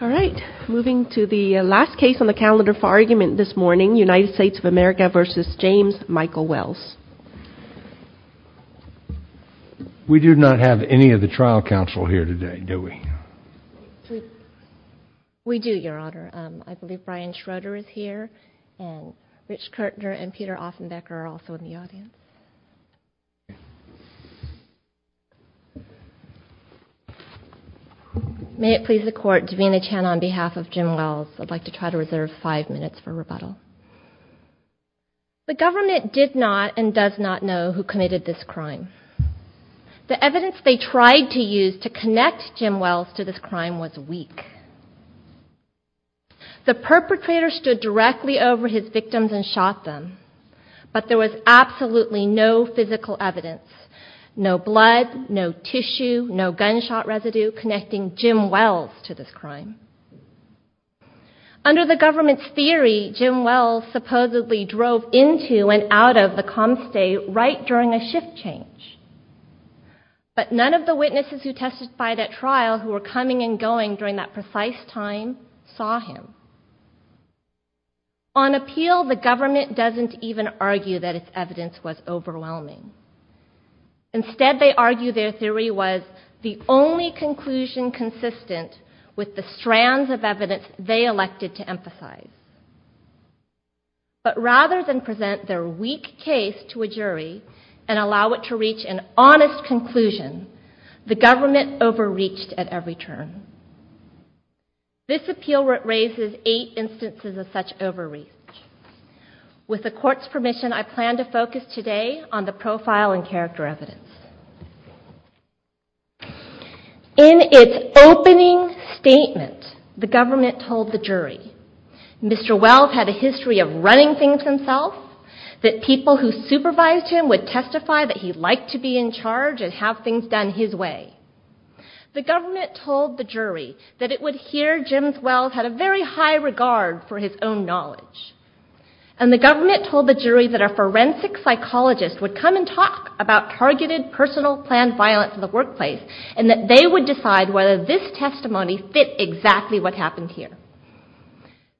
All right, moving to the last case on the calendar for argument this morning, United States of America v. James Michael Wells. We do not have any of the trial counsel here today, do we? We do, Your Honor. I believe Brian Schroeder is here, and Rich Kertner and Peter Offenbecker are also in the audience. May it please the Court, Davina Chan on behalf of Jim Wells, I'd like to try to reserve five minutes for rebuttal. The government did not and does not know who committed this crime. The evidence they tried to use to connect Jim Wells to this crime was weak. The perpetrator stood directly over his victims and shot them, but there was absolutely no physical evidence. No blood, no tissue, no gunshot residue connecting Jim Wells to this crime. Under the government's theory, Jim Wells supposedly drove into and out of the com state right during a shift change. But none of the witnesses who testified at trial who were coming and going during that precise time saw him. On appeal, the government doesn't even argue that its evidence was overwhelming. Instead, they argue their theory was the only conclusion consistent with the strands of evidence they elected to emphasize. But rather than present their weak case to a jury and allow it to reach an honest conclusion, the government overreached at every turn. This appeal raises eight instances of such overreach. With the Court's permission, I plan to focus today on the profile and character evidence. In its opening statement, the government told the jury Mr. Wells had a history of running things himself, that people who supervised him would testify that he liked to be in charge and have things done his way. The government told the jury that it would hear Jim Wells had a very high regard for his own knowledge. And the government told the jury that a forensic psychologist would come and talk about targeted personal planned violence in the workplace and that they would decide whether this testimony fit exactly what happened here.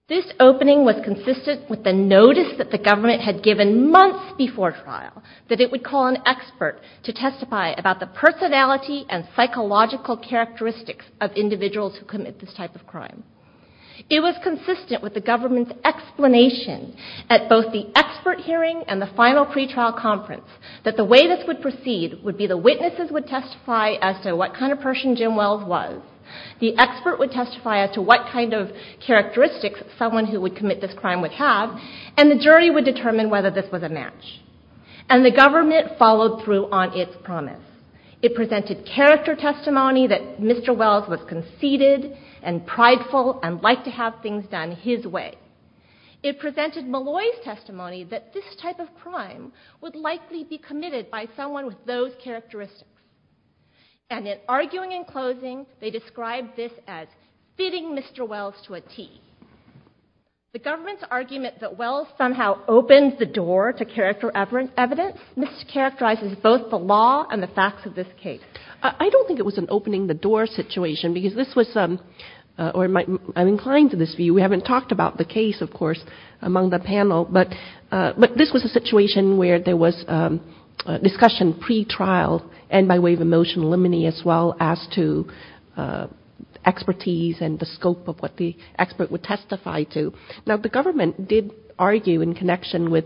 This opening was consistent with the notice that the government had given months before trial that it would call an expert to testify about the personality and psychological characteristics of individuals who commit this type of crime. It was consistent with the government's explanation at both the expert hearing and the final pretrial conference that the way this would proceed would be the witnesses would testify as to what kind of person Jim Wells was, the expert would testify as to what kind of characteristics someone who would commit this crime would have, and the jury would determine whether this was a match. And the government followed through on its promise. It presented character testimony that Mr. Wells was conceited and prideful and liked to have things done his way. It presented Malloy's testimony that this type of crime would likely be committed by someone with those characteristics. And in arguing and closing, they described this as fitting Mr. Wells to a T. The government's argument that Wells somehow opens the door to character evidence mischaracterizes both the law and the facts of this case. I don't think it was an opening the door situation, because this was, or I'm inclined to this view. We haven't talked about the case, of course, among the panel, but this was a situation where there was discussion pretrial and by way of emotional limine as well as to expertise and the scope of what the expert would testify to. Now, the government did argue in connection with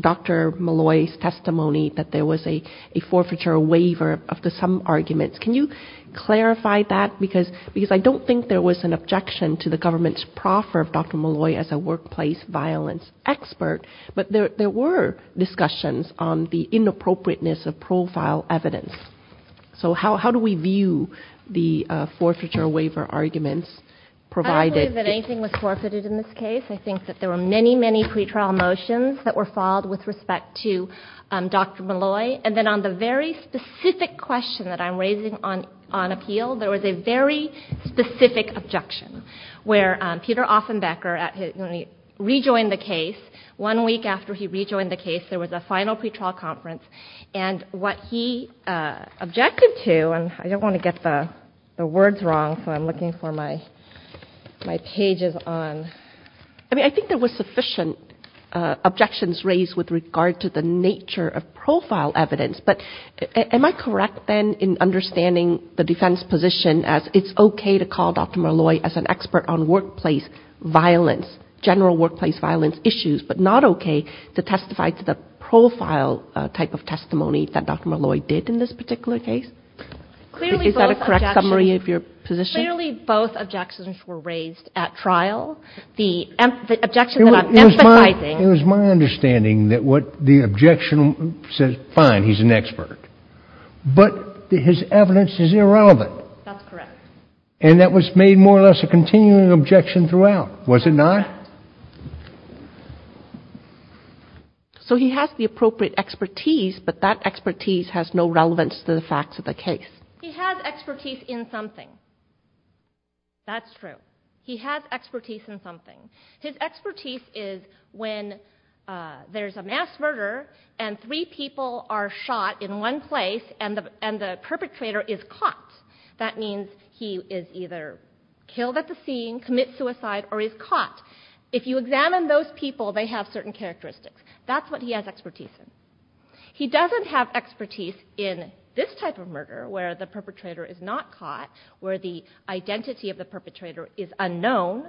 Dr. Malloy's testimony that there was a forfeiture waiver after some arguments. Can you clarify that? Because I don't think there was an objection to the government's proffer of Dr. Malloy as a workplace violence expert, but there were discussions on the inappropriateness of profile evidence. So how do we view the forfeiture waiver arguments provided? I don't believe that anything was forfeited in this case. I think that there were many, many pretrial motions that were filed with respect to Dr. Malloy. And then on the very specific question that I'm raising on appeal, there was a very specific objection where Peter Offenbecker rejoined the case. One week after he rejoined the case, there was a final pretrial conference, and what he objected to, and I don't want to get the words wrong, so I'm looking for my pages on... I mean, I think there were sufficient objections raised with regard to the nature of profile evidence, but am I correct then in understanding the defense position as it's okay to call Dr. Malloy as an expert on workplace violence, general workplace violence issues, but not okay to testify to the profile type of testimony that Dr. Malloy did in this particular case? Is that a correct summary of your position? Clearly both objections were raised at trial. The objection that I'm emphasizing... There was a continuing objection throughout, was it not? So he has the appropriate expertise, but that expertise has no relevance to the facts of the case. He has expertise in something. That's true. He has expertise in something. His expertise is when there's a mass murder and three people are shot in one place and the perpetrator is caught. That means he is either killed at the scene, commits suicide, or is caught. If you examine those people, they have certain characteristics. That's what he has expertise in. He doesn't have expertise in this type of murder where the perpetrator is not caught, where the identity of the perpetrator is unknown.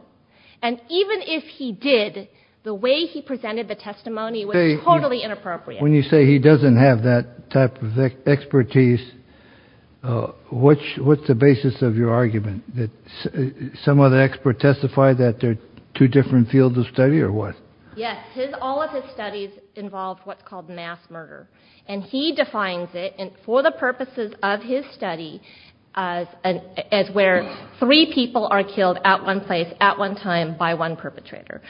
Even if he did, the way he presented the testimony was totally inappropriate. When you say he doesn't have that type of expertise, what's the basis of your argument? Some other expert testified that there are two different fields of study, or what? Yes. All of his studies involve what's called mass murder. And he defines it, for the purposes of his study, as where three people are killed at one place at one time by one perpetrator.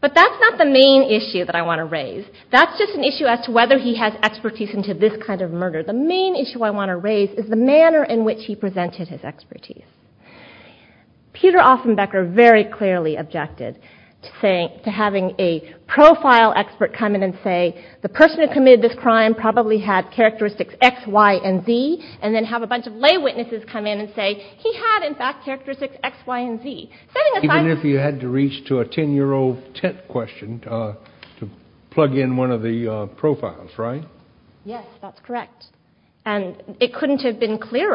But that's not the main issue that I want to raise. That's just an issue as to whether he has expertise in this kind of murder. The main issue I want to raise is the manner in which he presented his expertise. Peter Offenbecker very clearly objected to having a profile expert come in and say, the person who committed this crime probably had characteristics X, Y, and Z, and then have a bunch of lay witnesses come in and say he had, in fact, characteristics X, Y, and Z. Even if you had to reach to a ten-year-old tent question to plug in one of the profiles, right? Yes, that's correct. And that's exactly what happened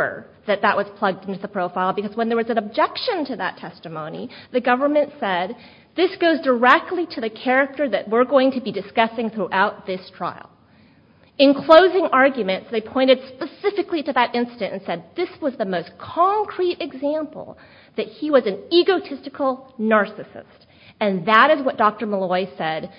in this trial, because when there was an objection to that testimony, the government said, this goes directly to the character that we're going to be discussing throughout this trial. In closing arguments, they pointed specifically to that incident and said, this was the most concrete example that he was an egotistical narcissist. And that is what Dr. Malloy said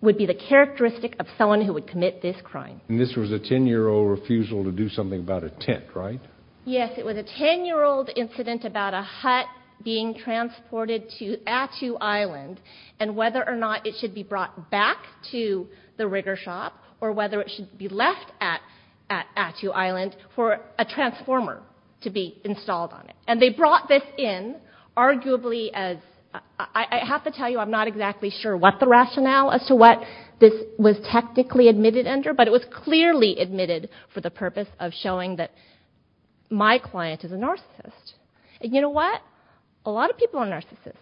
would be the characteristic of someone who would commit this crime. And this was a ten-year-old refusal to do something about a tent, right? Yes, it was a ten-year-old incident about a hut being transported to Attu Island, and whether or not it should be brought back to the rigger shop, or whether it should be left at Attu Island for a transformer to be installed on it. And they brought this in, arguably as... I have to tell you I'm not exactly sure what the rationale as to what this was technically admitted under, but it was clearly admitted for the purpose of showing that my client is a narcissist. And you know what? A lot of people are narcissists.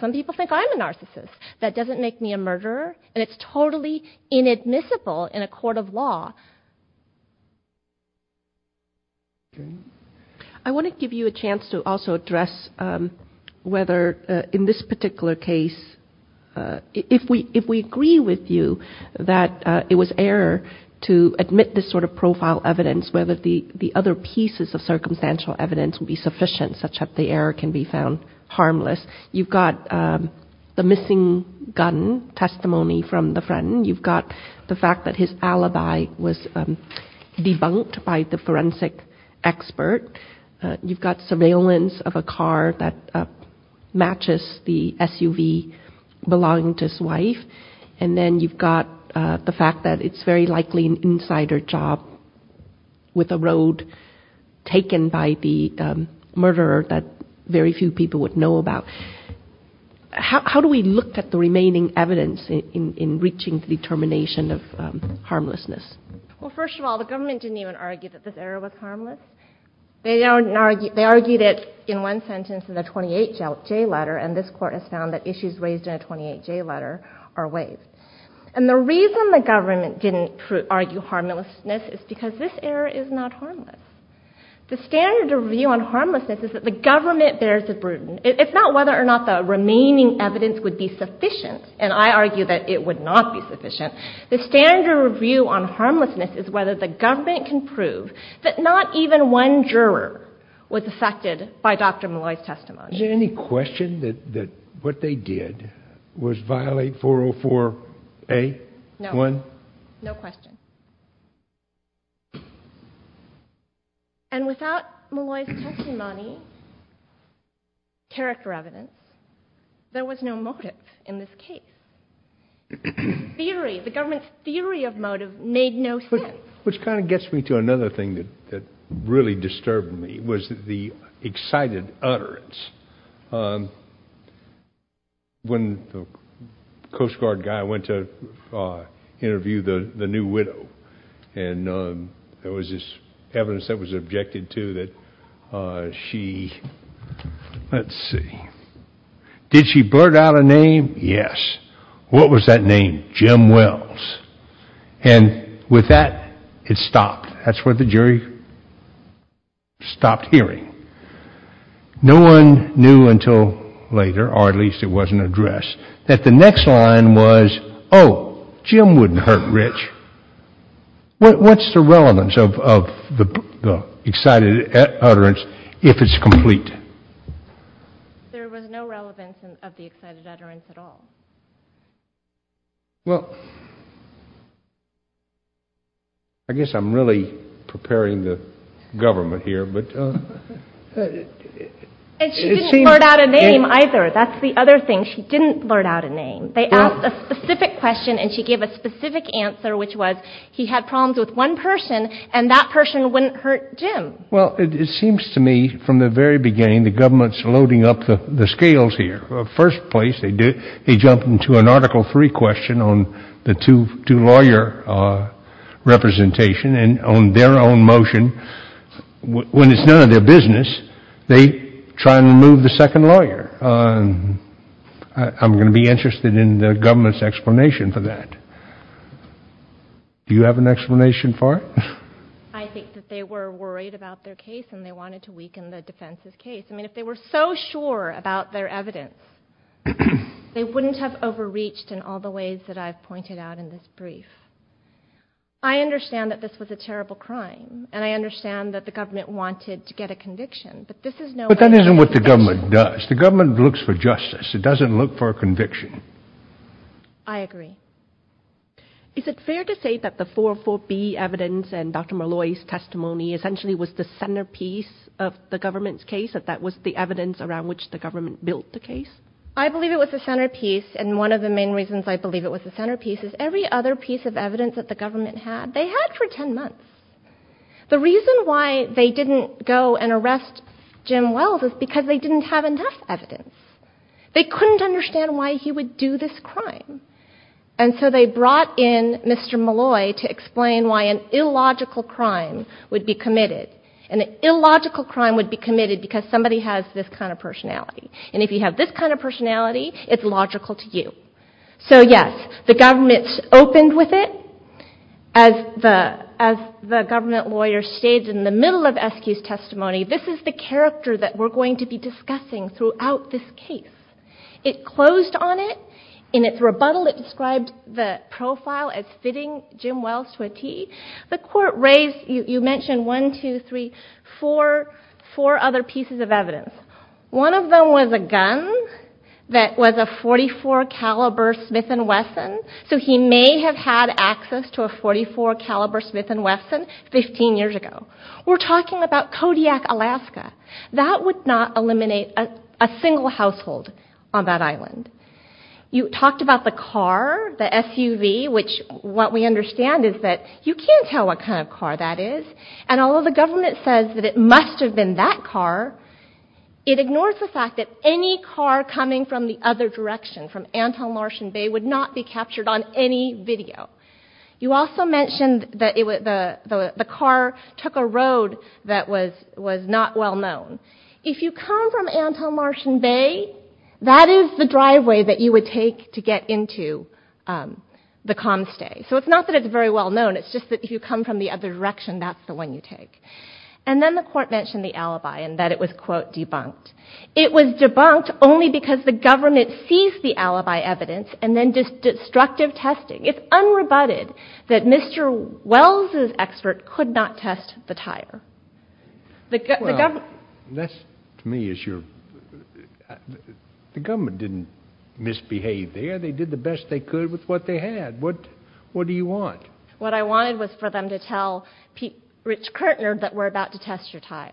Some people think I'm a narcissist. That doesn't make me a murderer. And it's totally inadmissible in a court of law. I want to give you a chance to also address whether in this particular case, if we agree with you that it was error to admit this sort of profile evidence, whether the other pieces of circumstantial evidence would be sufficient such that the error can be found harmless. You've got the missing gun testimony from the friend. You've got the fact that his alibi was debunked by the forensic expert. You've got surveillance of a car that matches the SUV belonging to his wife. And then you've got the fact that it's very likely an insider job with a road taken by the murderer that very few people would know about. How do we look at the remaining evidence in reaching the determination of harmlessness? Well, first of all, the government didn't even argue that this error was harmless. They argued it in one sentence in the 28J letter, and this Court has found that issues raised in the 28J letter are ways. And the reason the government didn't argue harmlessness is because this error is not harmless. The standard of view on harmlessness is that the government bears the burden. It's not whether or not the remaining evidence would be sufficient, and I argue that it would not be sufficient. The standard of view on harmlessness is whether the government can prove that not even one juror was affected by Dr. Malloy's testimony. Is there any question that what they did was violate 404A? No. No question. And without Malloy's testimony, character evidence, there was no motive in this case. Theory, the government's theory of motive made no sense. Which kind of gets me to another thing that really disturbed me, was the excited utterance. When the Coast Guard guy went to interview the new widow, and there was this evidence that was objected to that she, let's see. Did she blurt out a name? Yes. What was that name? Jim Wells. And with that, it stopped. That's what the jury stopped hearing. No one knew until later, or at least it wasn't addressed, that the next line was, oh, Jim wouldn't hurt Rich. What's the relevance of the excited utterance if it's complete? There was no relevance of the excited utterance at all. Well, I guess I'm really preparing the government here. And she didn't blurt out a name either. That's the other thing. She didn't blurt out a name. They asked a specific question, and she gave a specific answer, which was he had problems with one person, and that person wouldn't hurt Jim. Well, it seems to me, from the very beginning, the government's loading up the scales here. First place, they jumped into an Article III question on the two lawyer representation, and on their own motion, when it's none of their business, they try and remove the second lawyer. I'm going to be interested in the government's explanation for that. Do you have an explanation for it? I think that they were worried about their case, and they wanted to weaken the defense's case. I mean, if they were so sure about their evidence, they wouldn't have overreached in all the ways that I've pointed out in this brief. I understand that this was a terrible crime, and I understand that the government wanted to get a conviction, but this is no way to get a conviction. But that isn't what the government does. The government looks for justice. It doesn't look for a conviction. I agree. Is it fair to say that the 404B evidence and Dr. Molloy's testimony essentially was the centerpiece of the government's case, that that was the evidence around which the government built the case? I believe it was the centerpiece, and one of the main reasons I believe it was the centerpiece is every other piece of evidence that the government had, they had for 10 months. The reason why they didn't go and arrest Jim Wells is because they didn't have enough evidence. They couldn't understand why he would do this crime. And so they brought in Mr. Molloy to explain why an illogical crime would be committed. An illogical crime would be committed because somebody has this kind of personality. And if you have this kind of personality, it's logical to you. So yes, the government opened with it. As the government lawyer states in the middle of SQ's testimony, this is the character that we're going to be discussing throughout this case. It closed on it. In its rebuttal it describes the profile as fitting Jim Wells to a T. The court raised, you mentioned one, two, three, four other pieces of evidence. One of them was a gun that was a .44 caliber Smith & Wesson, so he may have had access to a .44 caliber Smith & Wesson 15 years ago. We're talking about Kodiak, Alaska. That would not eliminate a single household on that island. You talked about the car, the SUV, which what we understand is that you can't tell what kind of car that is. And although the government says that it must have been that car, it ignores the fact that any car coming from the other direction, from Antelmartian Bay, would not be captured on any video. You also mentioned that the car took a road that was not well known. If you come from Antelmartian Bay, that is the driveway that you would take to get into the Comstay. So it's not that it's very well known, it's just that if you come from the other direction, that's the one you take. And then the court mentioned the alibi and that it was, quote, debunked. It was debunked only because the government seized the alibi evidence and then did destructive testing. It's unrebutted that Mr. Wells' expert could not test the tire. The government didn't misbehave there. They did the best they could with what they had. What do you want? What I wanted was for them to tell Rich Kirtner that we're about to test your tire,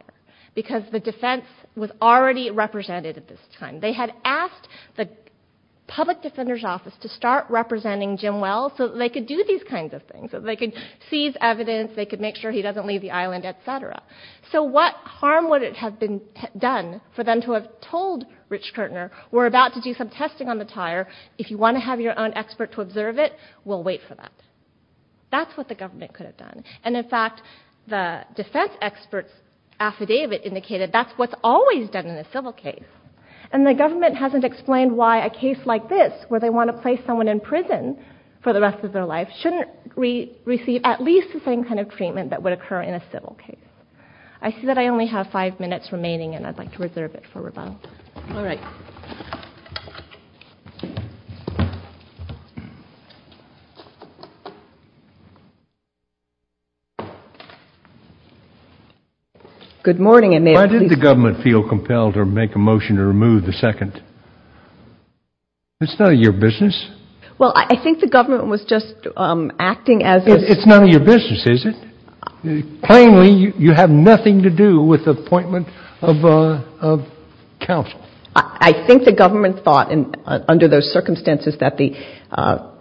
because the defense was already represented at this time. They had asked the public defender's office to start representing Jim Wells so that they could do these kinds of things, so they could seize evidence, they could make sure he doesn't leave the island, et cetera. So what harm would it have done for them to have told Rich Kirtner, we're about to do some testing on the tire, if you want to have your own expert to observe it, we'll wait for that. That's what the government could have done. And in fact, the defense expert's affidavit indicated that's what's always done in a civil case. And the government hasn't explained why a case like this, where they want to place someone in prison for the rest of their life, shouldn't receive at least the same kind of treatment that would occur in a civil case. I see that I only have five minutes remaining, and I'd like to reserve it for rebuttal. Why did the government feel compelled to make a motion to remove the second? It's none of your business. Well, I think the government was just acting as a... It's none of your business, is it? Plainly, you have nothing to do with the appointment of counsel. I think the government thought under those circumstances that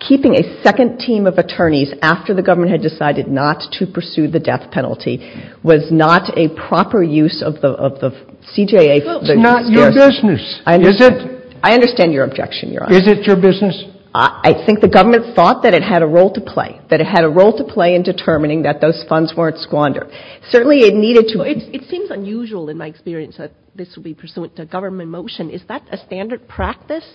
keeping a second team of attorneys after the government had decided not to pursue the death penalty was not a proper use of the CJA. It's not your business, is it? I understand your objection, Your Honor. Is it your business? I think the government thought that it had a role to play, that it had a role to play in determining that those funds weren't squandered. It seems unusual in my experience that this would be pursuant to a government motion. Is that a standard practice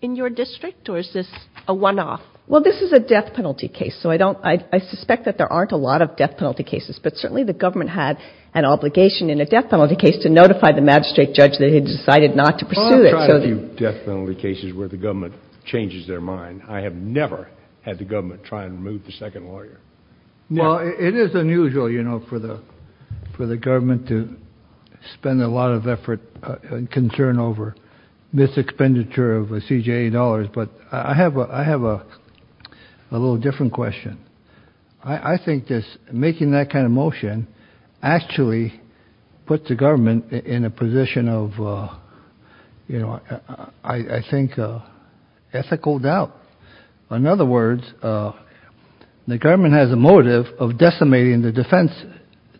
in your district, or is this a one-off? Well, this is a death penalty case, so I suspect that there aren't a lot of death penalty cases. But certainly the government had an obligation in a death penalty case to notify the magistrate judge that he had decided not to pursue it. I've tried a few death penalty cases where the government changes their mind. I have never had the government try and remove the second lawyer. Well, it is unusual for the government to spend a lot of effort and concern over this expenditure of CJA dollars. But I have a little different question. I think making that kind of motion actually puts the government in a position of, I think, ethical doubt. In other words, the government has a motive of decimating the defense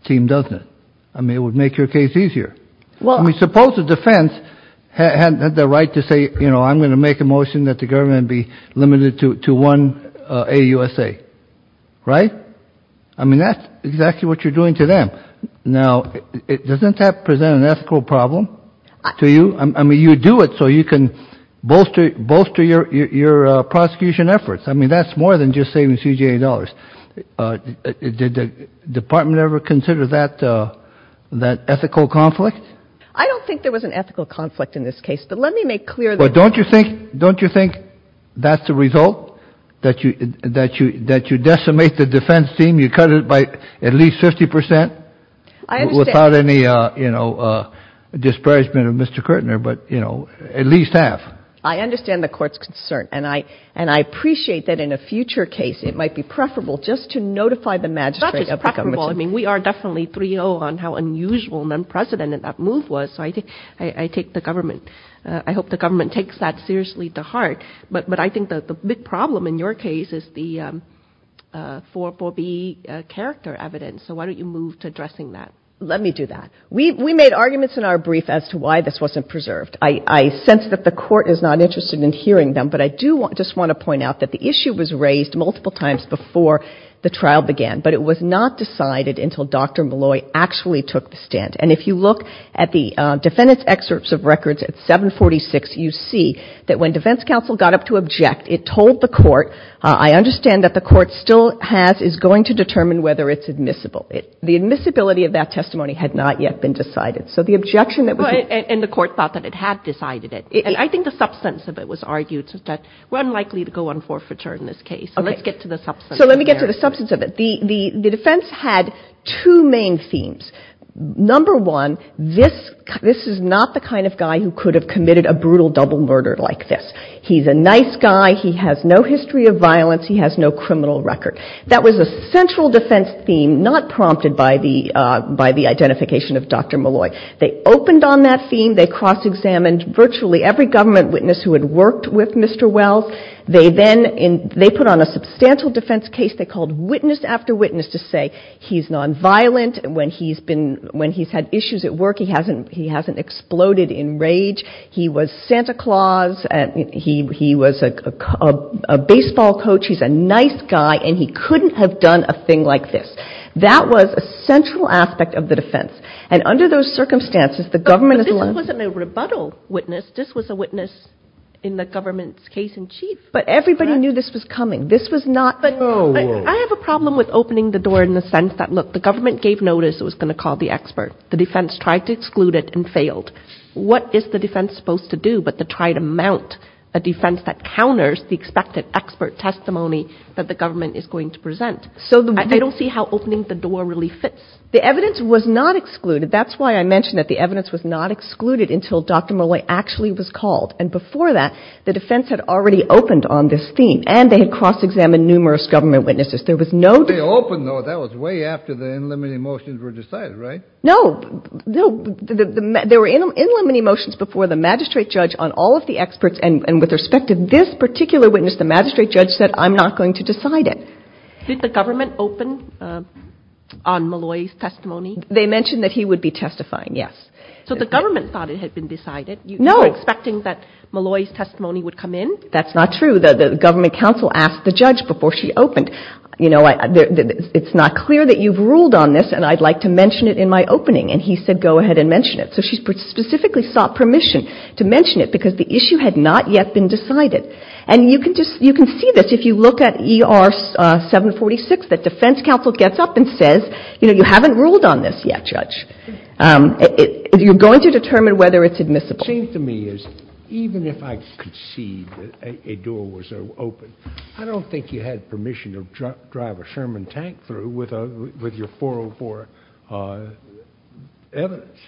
team, doesn't it? I mean, it would make your case easier. I mean, suppose the defense had the right to say, you know, I'm going to make a motion that the government be limited to one AUSA, right? I mean, that's exactly what you're doing to them. Now, doesn't that present an ethical problem to you? I mean, that's more than just saving CJA dollars. Did the department ever consider that ethical conflict? I don't think there was an ethical conflict in this case, but let me make clear that. But don't you think that's the result, that you decimate the defense team? You cut it by at least 50 percent without any, you know, disparagement of Mr. Kirtner, but, you know, at least half. I understand the Court's concern, and I appreciate that in a future case it might be preferable just to notify the magistrate of the conversation. It's not just preferable. I mean, we are definitely 3-0 on how unusual and unprecedented that move was, so I take the government — I hope the government takes that seriously to heart. But I think that the big problem in your case is the 4-4B character evidence, so why don't you move to addressing that? Let me do that. I don't think the Court is not interested in hearing them, but I do just want to point out that the issue was raised multiple times before the trial began. But it was not decided until Dr. Malloy actually took the stand. And if you look at the defendant's excerpts of records at 746, you see that when defense counsel got up to object, it told the Court, I understand that the Court still has — is going to determine whether it's admissible. The admissibility of that testimony had not yet been decided. The substance of it was argued that we're unlikely to go on forfeiture in this case. So let's get to the substance. So let me get to the substance of it. The defense had two main themes. Number one, this is not the kind of guy who could have committed a brutal double murder like this. He's a nice guy. He has no history of violence. He has no criminal record. That was a central defense theme not prompted by the identification of Dr. Malloy. They opened on that theme. They cross-examined virtually every government witness who had worked with Mr. Wells. They then — they put on a substantial defense case they called witness after witness to say he's nonviolent. When he's been — when he's had issues at work, he hasn't exploded in rage. He was Santa Claus. He was a baseball coach. He's a nice guy, and he couldn't have done a thing like this. That was a central aspect of the defense. And under those circumstances, the government is — But this wasn't a rebuttal witness. This was a witness in the government's case in chief. But everybody knew this was coming. This was not — I have a problem with opening the door in the sense that, look, the government gave notice it was going to call the expert. The defense tried to exclude it and failed. What is the defense supposed to do but to try to mount a defense that counters the expected expert testimony that the government is going to present? I don't see how opening the door really fits. The evidence was not excluded. That's why I mentioned that the evidence was not excluded until Dr. Molloy actually was called. And before that, the defense had already opened on this theme. And they had cross-examined numerous government witnesses. There was no — Did the government open on Molloy's testimony? They mentioned that he would be testifying, yes. So the government thought it had been decided. You were expecting that Molloy's testimony would come in? That's not true. The government counsel asked the judge before she opened, you know, it's not clear that you've ruled on this, and I'd like to mention it in my opening. And he said go ahead and mention it. So she specifically sought permission to mention it because the issue had not yet been decided. And you can see this if you look at ER 746, the defense counsel gets up and says, you know, you haven't ruled on this yet, judge. You're going to determine whether it's admissible. It seems to me as even if I could see that a door was open, I don't think you had permission to drive a Sherman tank through with your 404 evidence.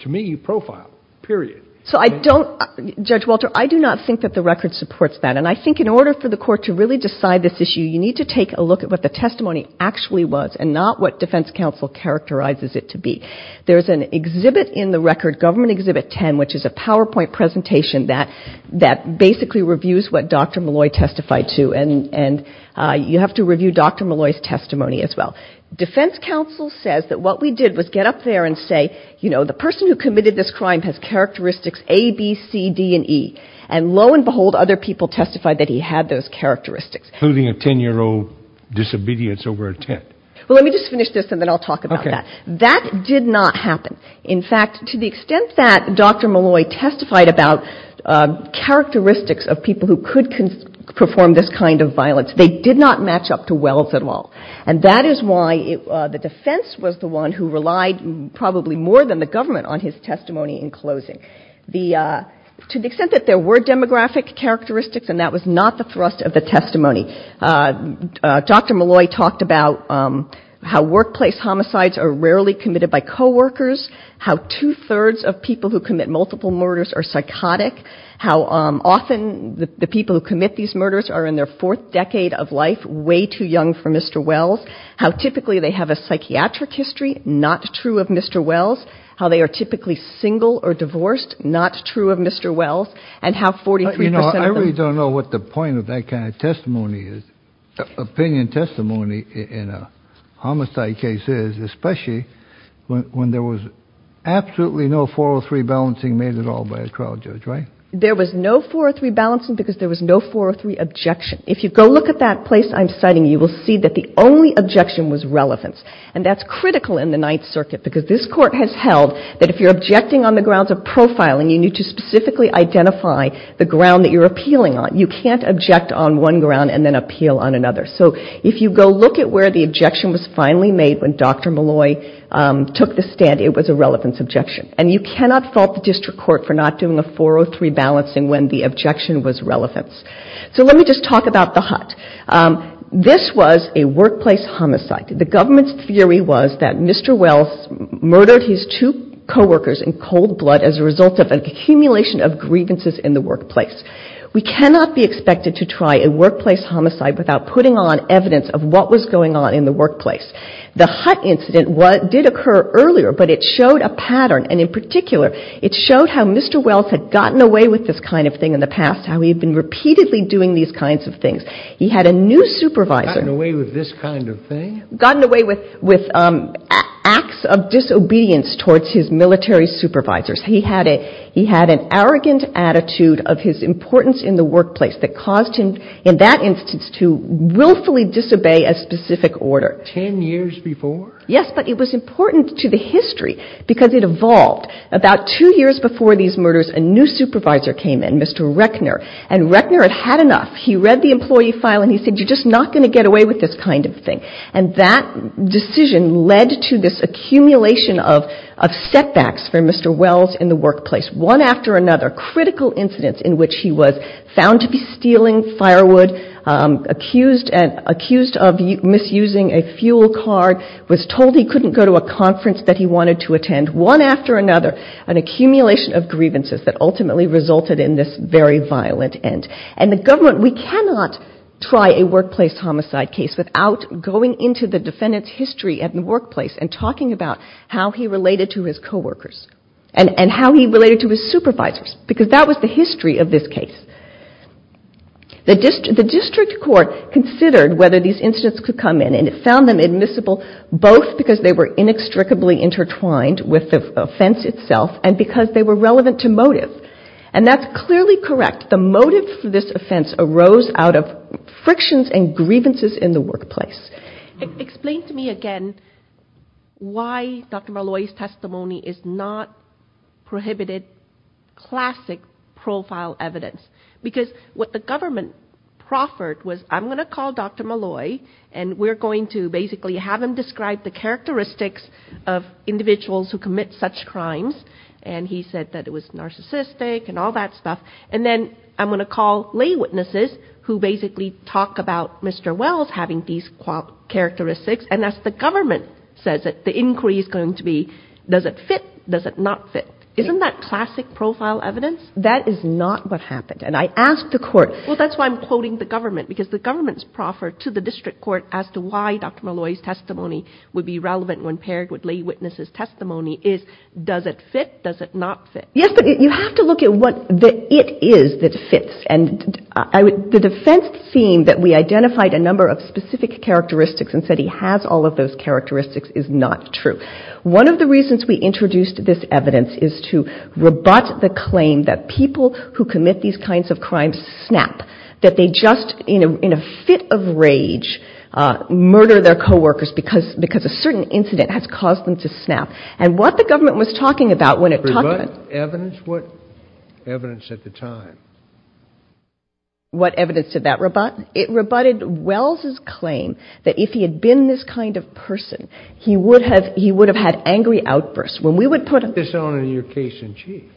To me, you profiled, period. So I don't — Judge Walter, I do not think that the record supports that. And I think in order for the court to really decide this issue, you need to take a look at what the testimony actually was and not what defense counsel characterizes it to be. There's an exhibit in the record, Government Exhibit 10, which is a PowerPoint presentation that basically reviews what Dr. Molloy testified to, and you have to review Dr. Molloy's testimony as well. Defense counsel says that what we did was get up there and say, you know, the person who committed this crime has characteristics A, B, C, D, and E. And lo and behold, other people testified that he had those characteristics. Including a 10-year-old disobedience over intent. Well, let me just finish this, and then I'll talk about that. That did not happen. In fact, to the extent that Dr. Molloy testified about characteristics of people who could perform this kind of violence, they did not match up to Wells at all. And that is why the defense was the one who relied probably more than the government on his testimony in closing. To the extent that there were demographic characteristics, and that was not the thrust of the testimony. Dr. Molloy talked about how workplace homicides are rarely committed by coworkers, how two-thirds of people who commit multiple murders are psychotic, how often the people who commit these murders are in their fourth decade of life way too young for Mr. Wells, how typically they have a psychiatric history not true of Mr. Wells, how they are typically single or divorced, not true of Mr. Wells, and how 43 percent of them... You know, I really don't know what the point of that kind of testimony is, opinion testimony in a homicide case is, especially when there was absolutely no 403 balancing made at all by a trial judge, right? There was no 403 balancing because there was no 403 objection. If you go look at that place I'm citing, you will see that the only objection was relevance. And that's critical in the Ninth Circuit, because this Court has held that if you're objecting on the grounds of profiling, you need to specifically identify the ground that you're appealing on. You can't object on one ground and then appeal on another. So if you go look at where the objection was finally made when Dr. Malloy took the stand, it was a relevance objection. And you cannot fault the District Court for not doing a 403 balancing when the objection was relevance. So let me just talk about the HOT. This was a workplace homicide. The government's theory was that Mr. Wells murdered his two coworkers in cold blood as a result of an accumulation of grievances in the workplace. We cannot be expected to try a workplace homicide without putting on evidence of what was going on in the workplace. The HOT incident did occur earlier, but it showed a pattern. And in particular, it showed how Mr. Wells had gotten away with this kind of thing in the past, how he had been repeatedly doing these kinds of things. He had a new supervisor. Gotten away with this kind of thing? Gotten away with acts of disobedience towards his military supervisors. He had an arrogant attitude of his importance in the workplace that caused him in that instance to willfully disobey a specific order. Ten years before? Yes, but it was important to the history because it evolved. About two years before these murders, a new supervisor came in, Mr. Reckner, and Reckner had had enough. He read the employee file and he said, you're just not going to get away with this kind of thing. And that decision led to this accumulation of setbacks for Mr. Wells in the workplace. One after another, critical incidents in which he was found to be stealing firewood, accused of misusing a fuel card, was told he couldn't go to a conference that he wanted to attend. One after another, an accumulation of grievances that ultimately resulted in this very violent end. And the government, we cannot try a workplace homicide case without going into the defendant's history at the workplace and talking about how he related to his coworkers and how he related to his supervisors. Because that was the history of this case. The district court considered whether these incidents could come in and it found them admissible both because they were inextricably intertwined with the offense itself and because they were relevant to motive. And that's clearly correct. The motive for this offense arose out of frictions and grievances in the workplace. Explain to me again why Dr. Malloy's testimony is not prohibited classic profile evidence. Because what the government proffered was I'm going to call Dr. Malloy and we're going to basically have him describe the characteristics of individuals who commit such crimes. And he said that it was narcissistic and all that stuff. And then I'm going to call lay witnesses who basically talk about Mr. Wells having these characteristics. And that's the government says that the inquiry is going to be, does it fit, does it not fit? Isn't that classic profile evidence? That is not what happened. And I asked the court. Well, that's why I'm quoting the government because the government's proffer to the district court as to why Dr. Malloy's testimony would be relevant when paired with lay witnesses' testimony is does it fit, does it not fit? Yes, but you have to look at what the it is that fits. And the defense seen that we identified a number of specific characteristics and said he has all of those characteristics is not true. One of the reasons we introduced this evidence is to rebut the claim that people who commit these kinds of crimes snap. That they just in a fit of rage murder their coworkers because a certain incident has caused them to snap. And what the government was talking about when it talked about... Rebut evidence? What evidence at the time? What evidence did that rebut? It rebutted Wells' claim that if he had been this kind of person, he would have had angry outbursts. When we would put...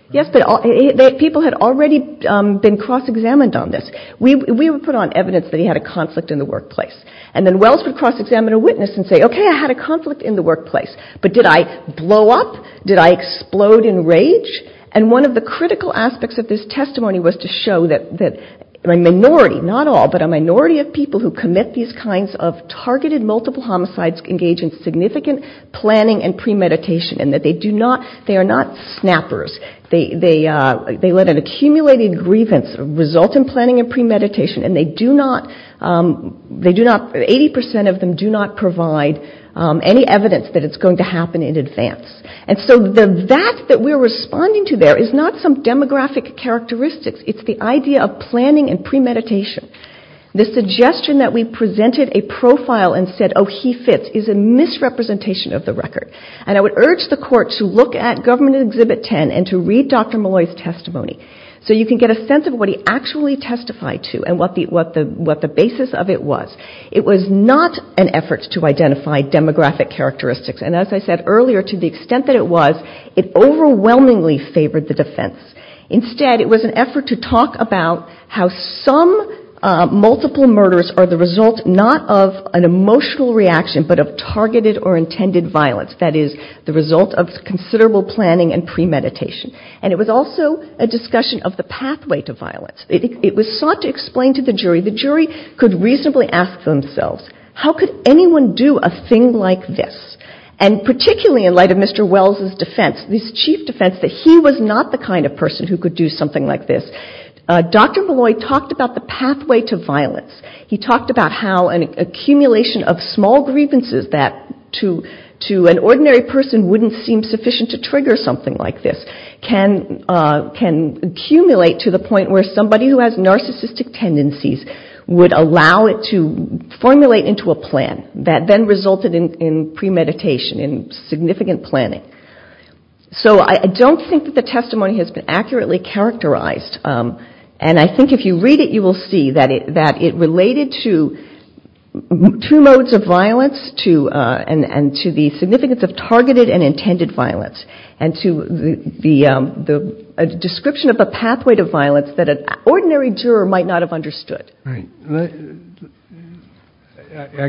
Yes, but people had already been cross-examined on this. We would put on evidence that he had a conflict in the workplace. And then Wells would cross-examine a witness and say, okay, I had a conflict in the workplace. But did I blow up? Did I explode in rage? And one of the critical aspects of this testimony was to show that a minority, not all, but a minority of people who commit these kinds of targeted multiple homicides engage in significant planning and premeditation. And that they do not, they are not snappers. They let an accumulated grievance result in planning and premeditation. And they do not, 80% of them do not provide any evidence that it's going to happen in advance. And so that that we're responding to there is not some demographic characteristics. It's the idea of planning and premeditation. The suggestion that we presented a profile and said, oh, he fits, is a misrepresentation of the record. And I would urge the Court to look at Government Exhibit 10 and to read Dr. Malloy's testimony so you can get a sense of what he actually testified to and what the basis of it was. It was not an effort to identify demographic characteristics. And as I said earlier, to the extent that it was, it overwhelmingly favored the defense. Instead, it was an effort to talk about how some multiple murders are the result not of an emotional reaction, but of targeted or intended violence, that is, the result of considerable planning and premeditation. And it was also a discussion of the pathway to violence. It was sought to explain to the jury, the jury could reasonably ask themselves, how could anyone do a thing like this? And particularly in light of Mr. Wells' defense, this chief defense that he was not the kind of person who could do something like this. Dr. Malloy talked about the pathway to violence. He talked about how an accumulation of small grievances that to an ordinary person wouldn't seem sufficient to trigger something like this, can accumulate to the point where somebody who has narcissistic tendencies would allow it to formulate into a plan that then resulted in premeditation, in significant planning. So I don't think that the testimony has been accurately characterized. And I think if you read it, you will see that it related to two modes of violence, and to the significance of targeted and intended violence, and to the description of the pathway to violence that an ordinary juror might not have understood. I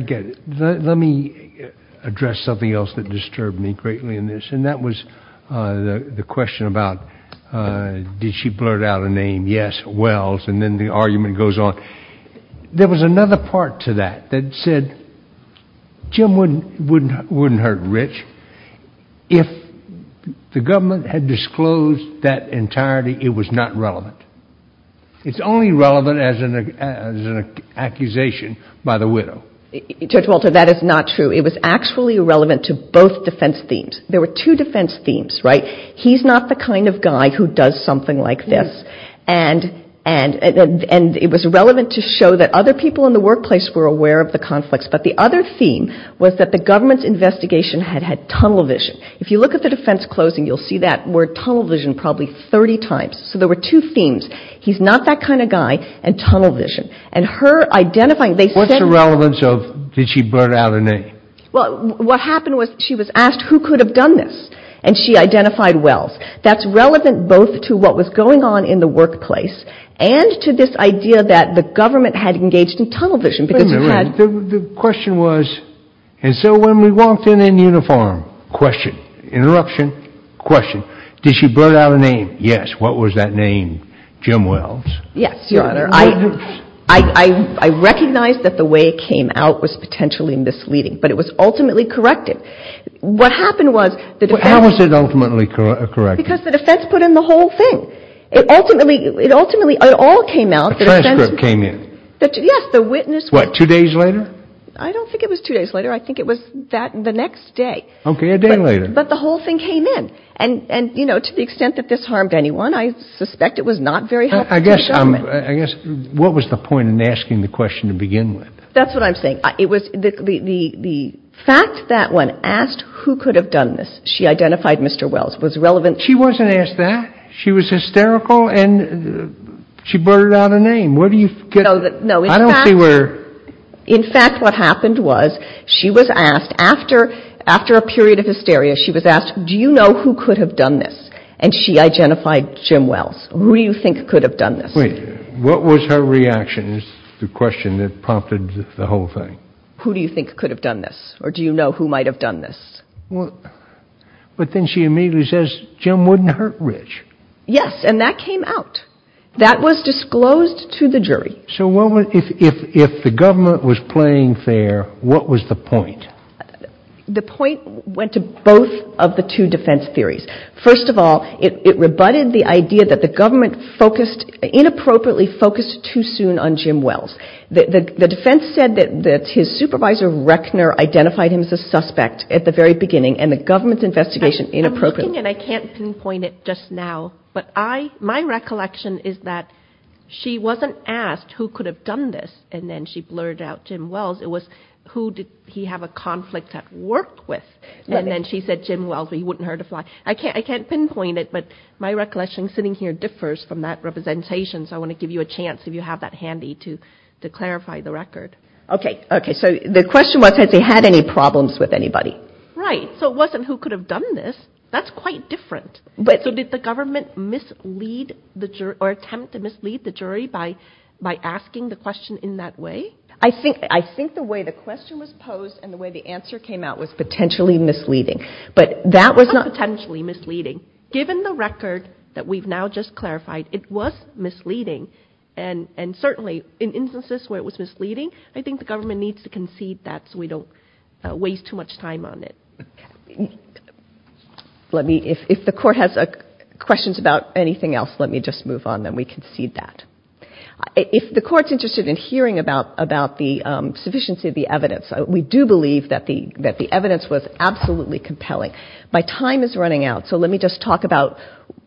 get it. Let me address something else that disturbed me greatly in this, and that was the question about did she blurt out a name? Yes, Wells, and then the argument goes on. There was another part to that that said Jim wouldn't hurt Rich. If the government had disclosed that entirety, it was not relevant. It's only relevant as an accusation by the widow. Judge Walter, that is not true. It was actually relevant to both defense themes. There were two defense themes, right? He's not the kind of guy who does something like this, and it was relevant to show that other people in the workplace were aware of the conflicts. But the other theme was that the government's investigation had had tunnel vision. If you look at the defense closing, you'll see that word tunnel vision probably 30 times. So there were two themes. He's not that kind of guy, and tunnel vision. What's the relevance of did she blurt out a name? Well, what happened was she was asked who could have done this, and she identified Wells. That's relevant both to what was going on in the workplace and to this idea that the government had engaged in tunnel vision. The question was, and so when we walked in in uniform, question, interruption, question, did she blurt out a name? Yes. What was that name, Jim Wells? Yes, Your Honor. I recognize that the way it came out was potentially misleading, but it was ultimately corrected. How was it ultimately corrected? Because the defense put in the whole thing. A transcript came in? Yes. What, two days later? I don't think it was two days later. I think it was the next day. Okay, a day later. But the whole thing came in. And to the extent that this harmed anyone, I suspect it was not very helpful to the government. I guess what was the point in asking the question to begin with? That's what I'm saying. The fact that when asked who could have done this, she identified Mr. Wells was relevant. She wasn't asked that. She was hysterical and she blurted out a name. I don't see where. In fact, what happened was she was asked, after a period of hysteria, she was asked, do you know who could have done this? And she identified Jim Wells. Who do you think could have done this? What was her reaction is the question that prompted the whole thing. Who do you think could have done this or do you know who might have done this? But then she immediately says Jim wouldn't hurt Rich. Yes, and that came out. That was disclosed to the jury. So if the government was playing fair, what was the point? The point went to both of the two defense theories. First of all, it rebutted the idea that the government inappropriately focused too soon on Jim Wells. The defense said that his supervisor, Reckner, identified him as a suspect at the very beginning and the government's investigation inappropriately. I'm looking and I can't pinpoint it just now, but my recollection is that she wasn't asked who could have done this and then she blurred out Jim Wells. It was who did he have a conflict at work with? And then she said Jim Wells, but he wouldn't hurt a fly. I can't pinpoint it, but my recollection sitting here differs from that representation. So I want to give you a chance, if you have that handy, to clarify the record. Okay, so the question was has he had any problems with anybody? Right, so it wasn't who could have done this. That's quite different. So did the government attempt to mislead the jury by asking the question in that way? I think the way the question was posed and the way the answer came out was potentially misleading. But that was not ñ Not potentially misleading. Given the record that we've now just clarified, it was misleading, and certainly in instances where it was misleading, I think the government needs to concede that so we don't waste too much time on it. Let me, if the Court has questions about anything else, let me just move on, then we concede that. If the Court's interested in hearing about the sufficiency of the evidence, we do believe that the evidence was absolutely compelling. My time is running out, so let me just talk about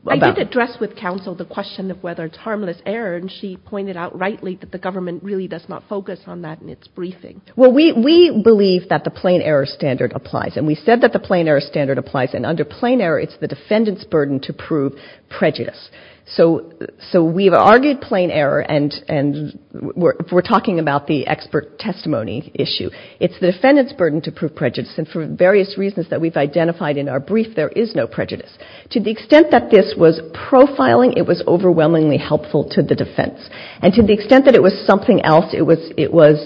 ñ I did address with counsel the question of whether it's harmless error, and she pointed out rightly that the government really does not focus on that in its briefing. Well, we believe that the plain error standard applies, and we said that the plain error standard applies, and under plain error, it's the defendant's burden to prove prejudice. So we've argued plain error, and we're talking about the expert testimony issue. It's the defendant's burden to prove prejudice, and for various reasons that we've identified in our brief, there is no prejudice. To the extent that this was profiling, it was overwhelmingly helpful to the defense. And to the extent that it was something else, it was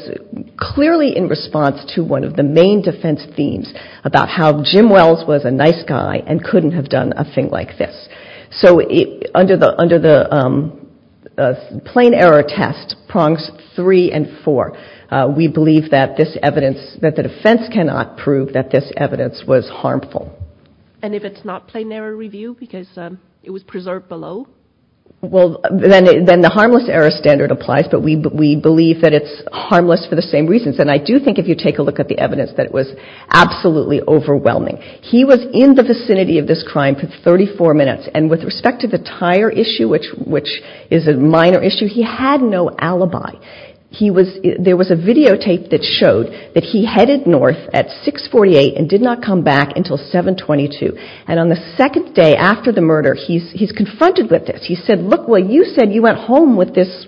clearly in response to one of the main defense themes about how Jim Wells was a nice guy and couldn't have done a thing like this. So under the plain error test, prongs three and four, we believe that this evidence ñ that the defense cannot prove that this evidence was harmful. And if it's not plain error review because it was preserved below? Well, then the harmless error standard applies, but we believe that it's harmless for the same reasons. And I do think if you take a look at the evidence, that it was absolutely overwhelming. He was in the vicinity of this crime for 34 minutes, and with respect to the tire issue, which is a minor issue, he had no alibi. There was a videotape that showed that he headed north at 648 and did not come back until 722. And on the second day after the murder, he's confronted with this. He said, look, well, you said you went home with this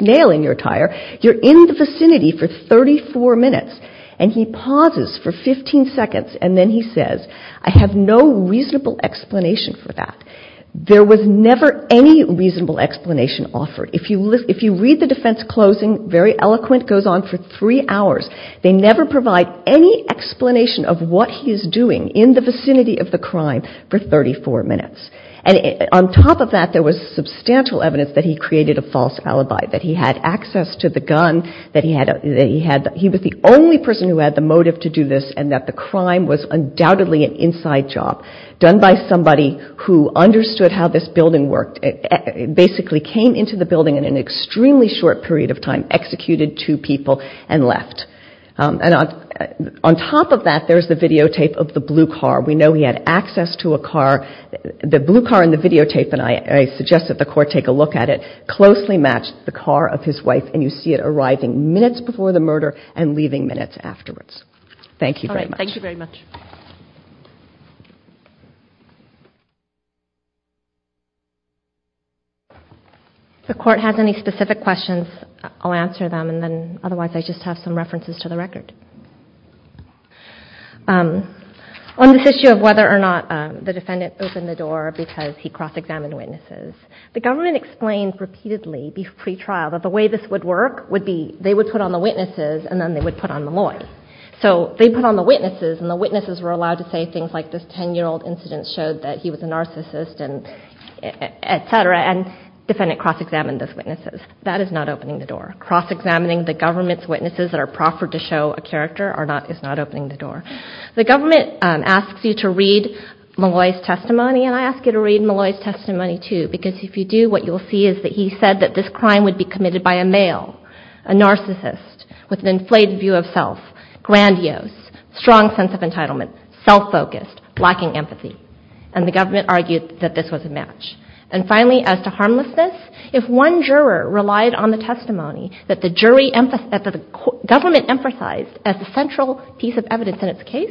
nail in your tire. You're in the vicinity for 34 minutes. And he pauses for 15 seconds, and then he says, I have no reasonable explanation for that. There was never any reasonable explanation offered. If you read the defense closing, very eloquent, goes on for three hours. They never provide any explanation of what he is doing in the vicinity of the crime for 34 minutes. And on top of that, there was substantial evidence that he created a false alibi, that he had access to the gun, that he was the only person who had the motive to do this, and that the crime was undoubtedly an inside job done by somebody who understood how this building worked, basically came into the building in an extremely short period of time, executed two people, and left. And on top of that, there's the videotape of the blue car. We know he had access to a car. The blue car in the videotape, and I suggest that the Court take a look at it, closely matched the car of his wife, and you see it arriving minutes before the murder and leaving minutes afterwards. Thank you very much. If the Court has any specific questions, I'll answer them. Otherwise, I just have some references to the record. On this issue of whether or not the defendant opened the door because he cross-examined witnesses, the government explained repeatedly, pre-trial, that the way this would work would be they would put on the witnesses, and then they would put on the lawyer. So they put on the witnesses, and the witnesses were allowed to say things like this 10-year-old incident showed that he was a narcissist, et cetera, and the defendant cross-examined those witnesses. That is not opening the door. Cross-examining the government's witnesses that are proffered to show a character is not opening the door. The government asks you to read Malloy's testimony, and I ask you to read Malloy's testimony too, because if you do, what you'll see is that he said that this crime would be committed by a male, a narcissist, with an inflated view of self, grandiose, strong sense of entitlement, self-focused, lacking empathy. And the government argued that this was a match. And finally, as to harmlessness, if one juror relied on the testimony that the jury emphasized, that the government emphasized as the central piece of evidence in its case,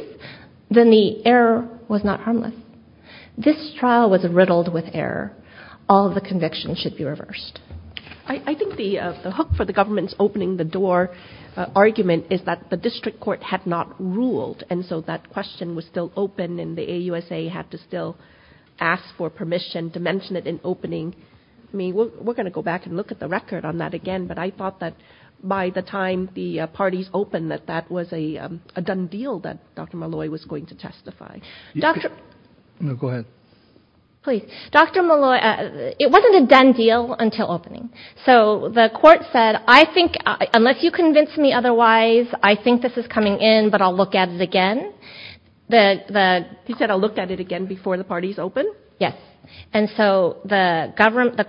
then the error was not harmless. This trial was riddled with error. All of the convictions should be reversed. I think the hook for the government's opening the door argument is that the district court had not ruled, and so that question was still open, and the AUSA had to still ask for permission to mention it in opening. I mean, we're going to go back and look at the record on that again, but I thought that by the time the parties opened that that was a done deal that Dr. Malloy was going to testify. No, go ahead. It wasn't a done deal until opening. So the court said, unless you convince me otherwise, I think this is coming in, but I'll look at it again. He said, I'll look at it again before the parties open? Yes. And so the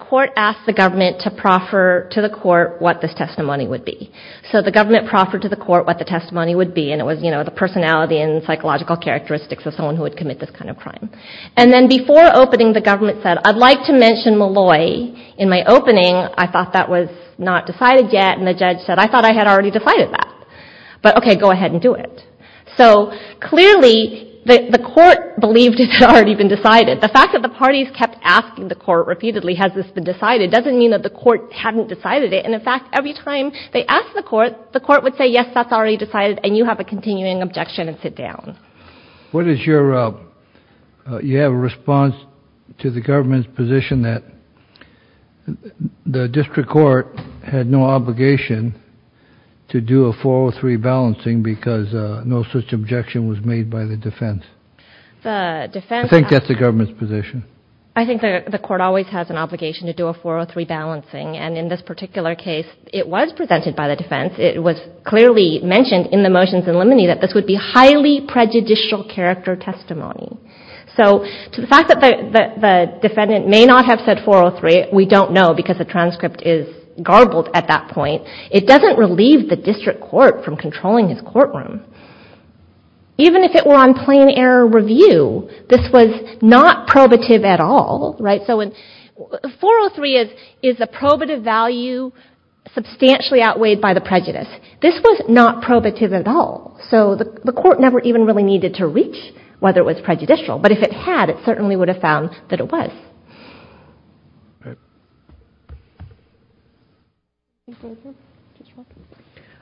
court asked the government to proffer to the court what this testimony would be. So the government proffered to the court what the testimony would be, and it was the personality and psychological characteristics of someone who would commit this kind of crime. And then before opening, the government said, I'd like to mention Malloy in my opening. I thought that was not decided yet, and the judge said, I thought I had already decided that. But okay, go ahead and do it. So clearly the court believed it had already been decided. The fact that the parties kept asking the court repeatedly, has this been decided, doesn't mean that the court hadn't decided it. And in fact, every time they asked the court, the court would say, yes, that's already decided, and you have a continuing objection and sit down. You have a response to the government's position that the district court had no obligation to do a 403 balancing because no such objection was made by the defense. I think that's the government's position. I think the court always has an obligation to do a 403 balancing, and in this particular case, it was presented by the defense. It was clearly mentioned in the motions in limine that this would be highly prejudicial character testimony. So to the fact that the defendant may not have said 403, we don't know, because the transcript is garbled at that point. It doesn't relieve the district court from controlling his courtroom. Even if it were on plain error review, this was not probative at all. 403 is a probative value substantially outweighed by the prejudice. This was not probative at all. So the court never even really needed to reach whether it was prejudicial, but if it had, it certainly would have found that it was.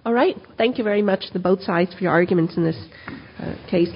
All right. Thank you very much to both sides for your arguments in this case.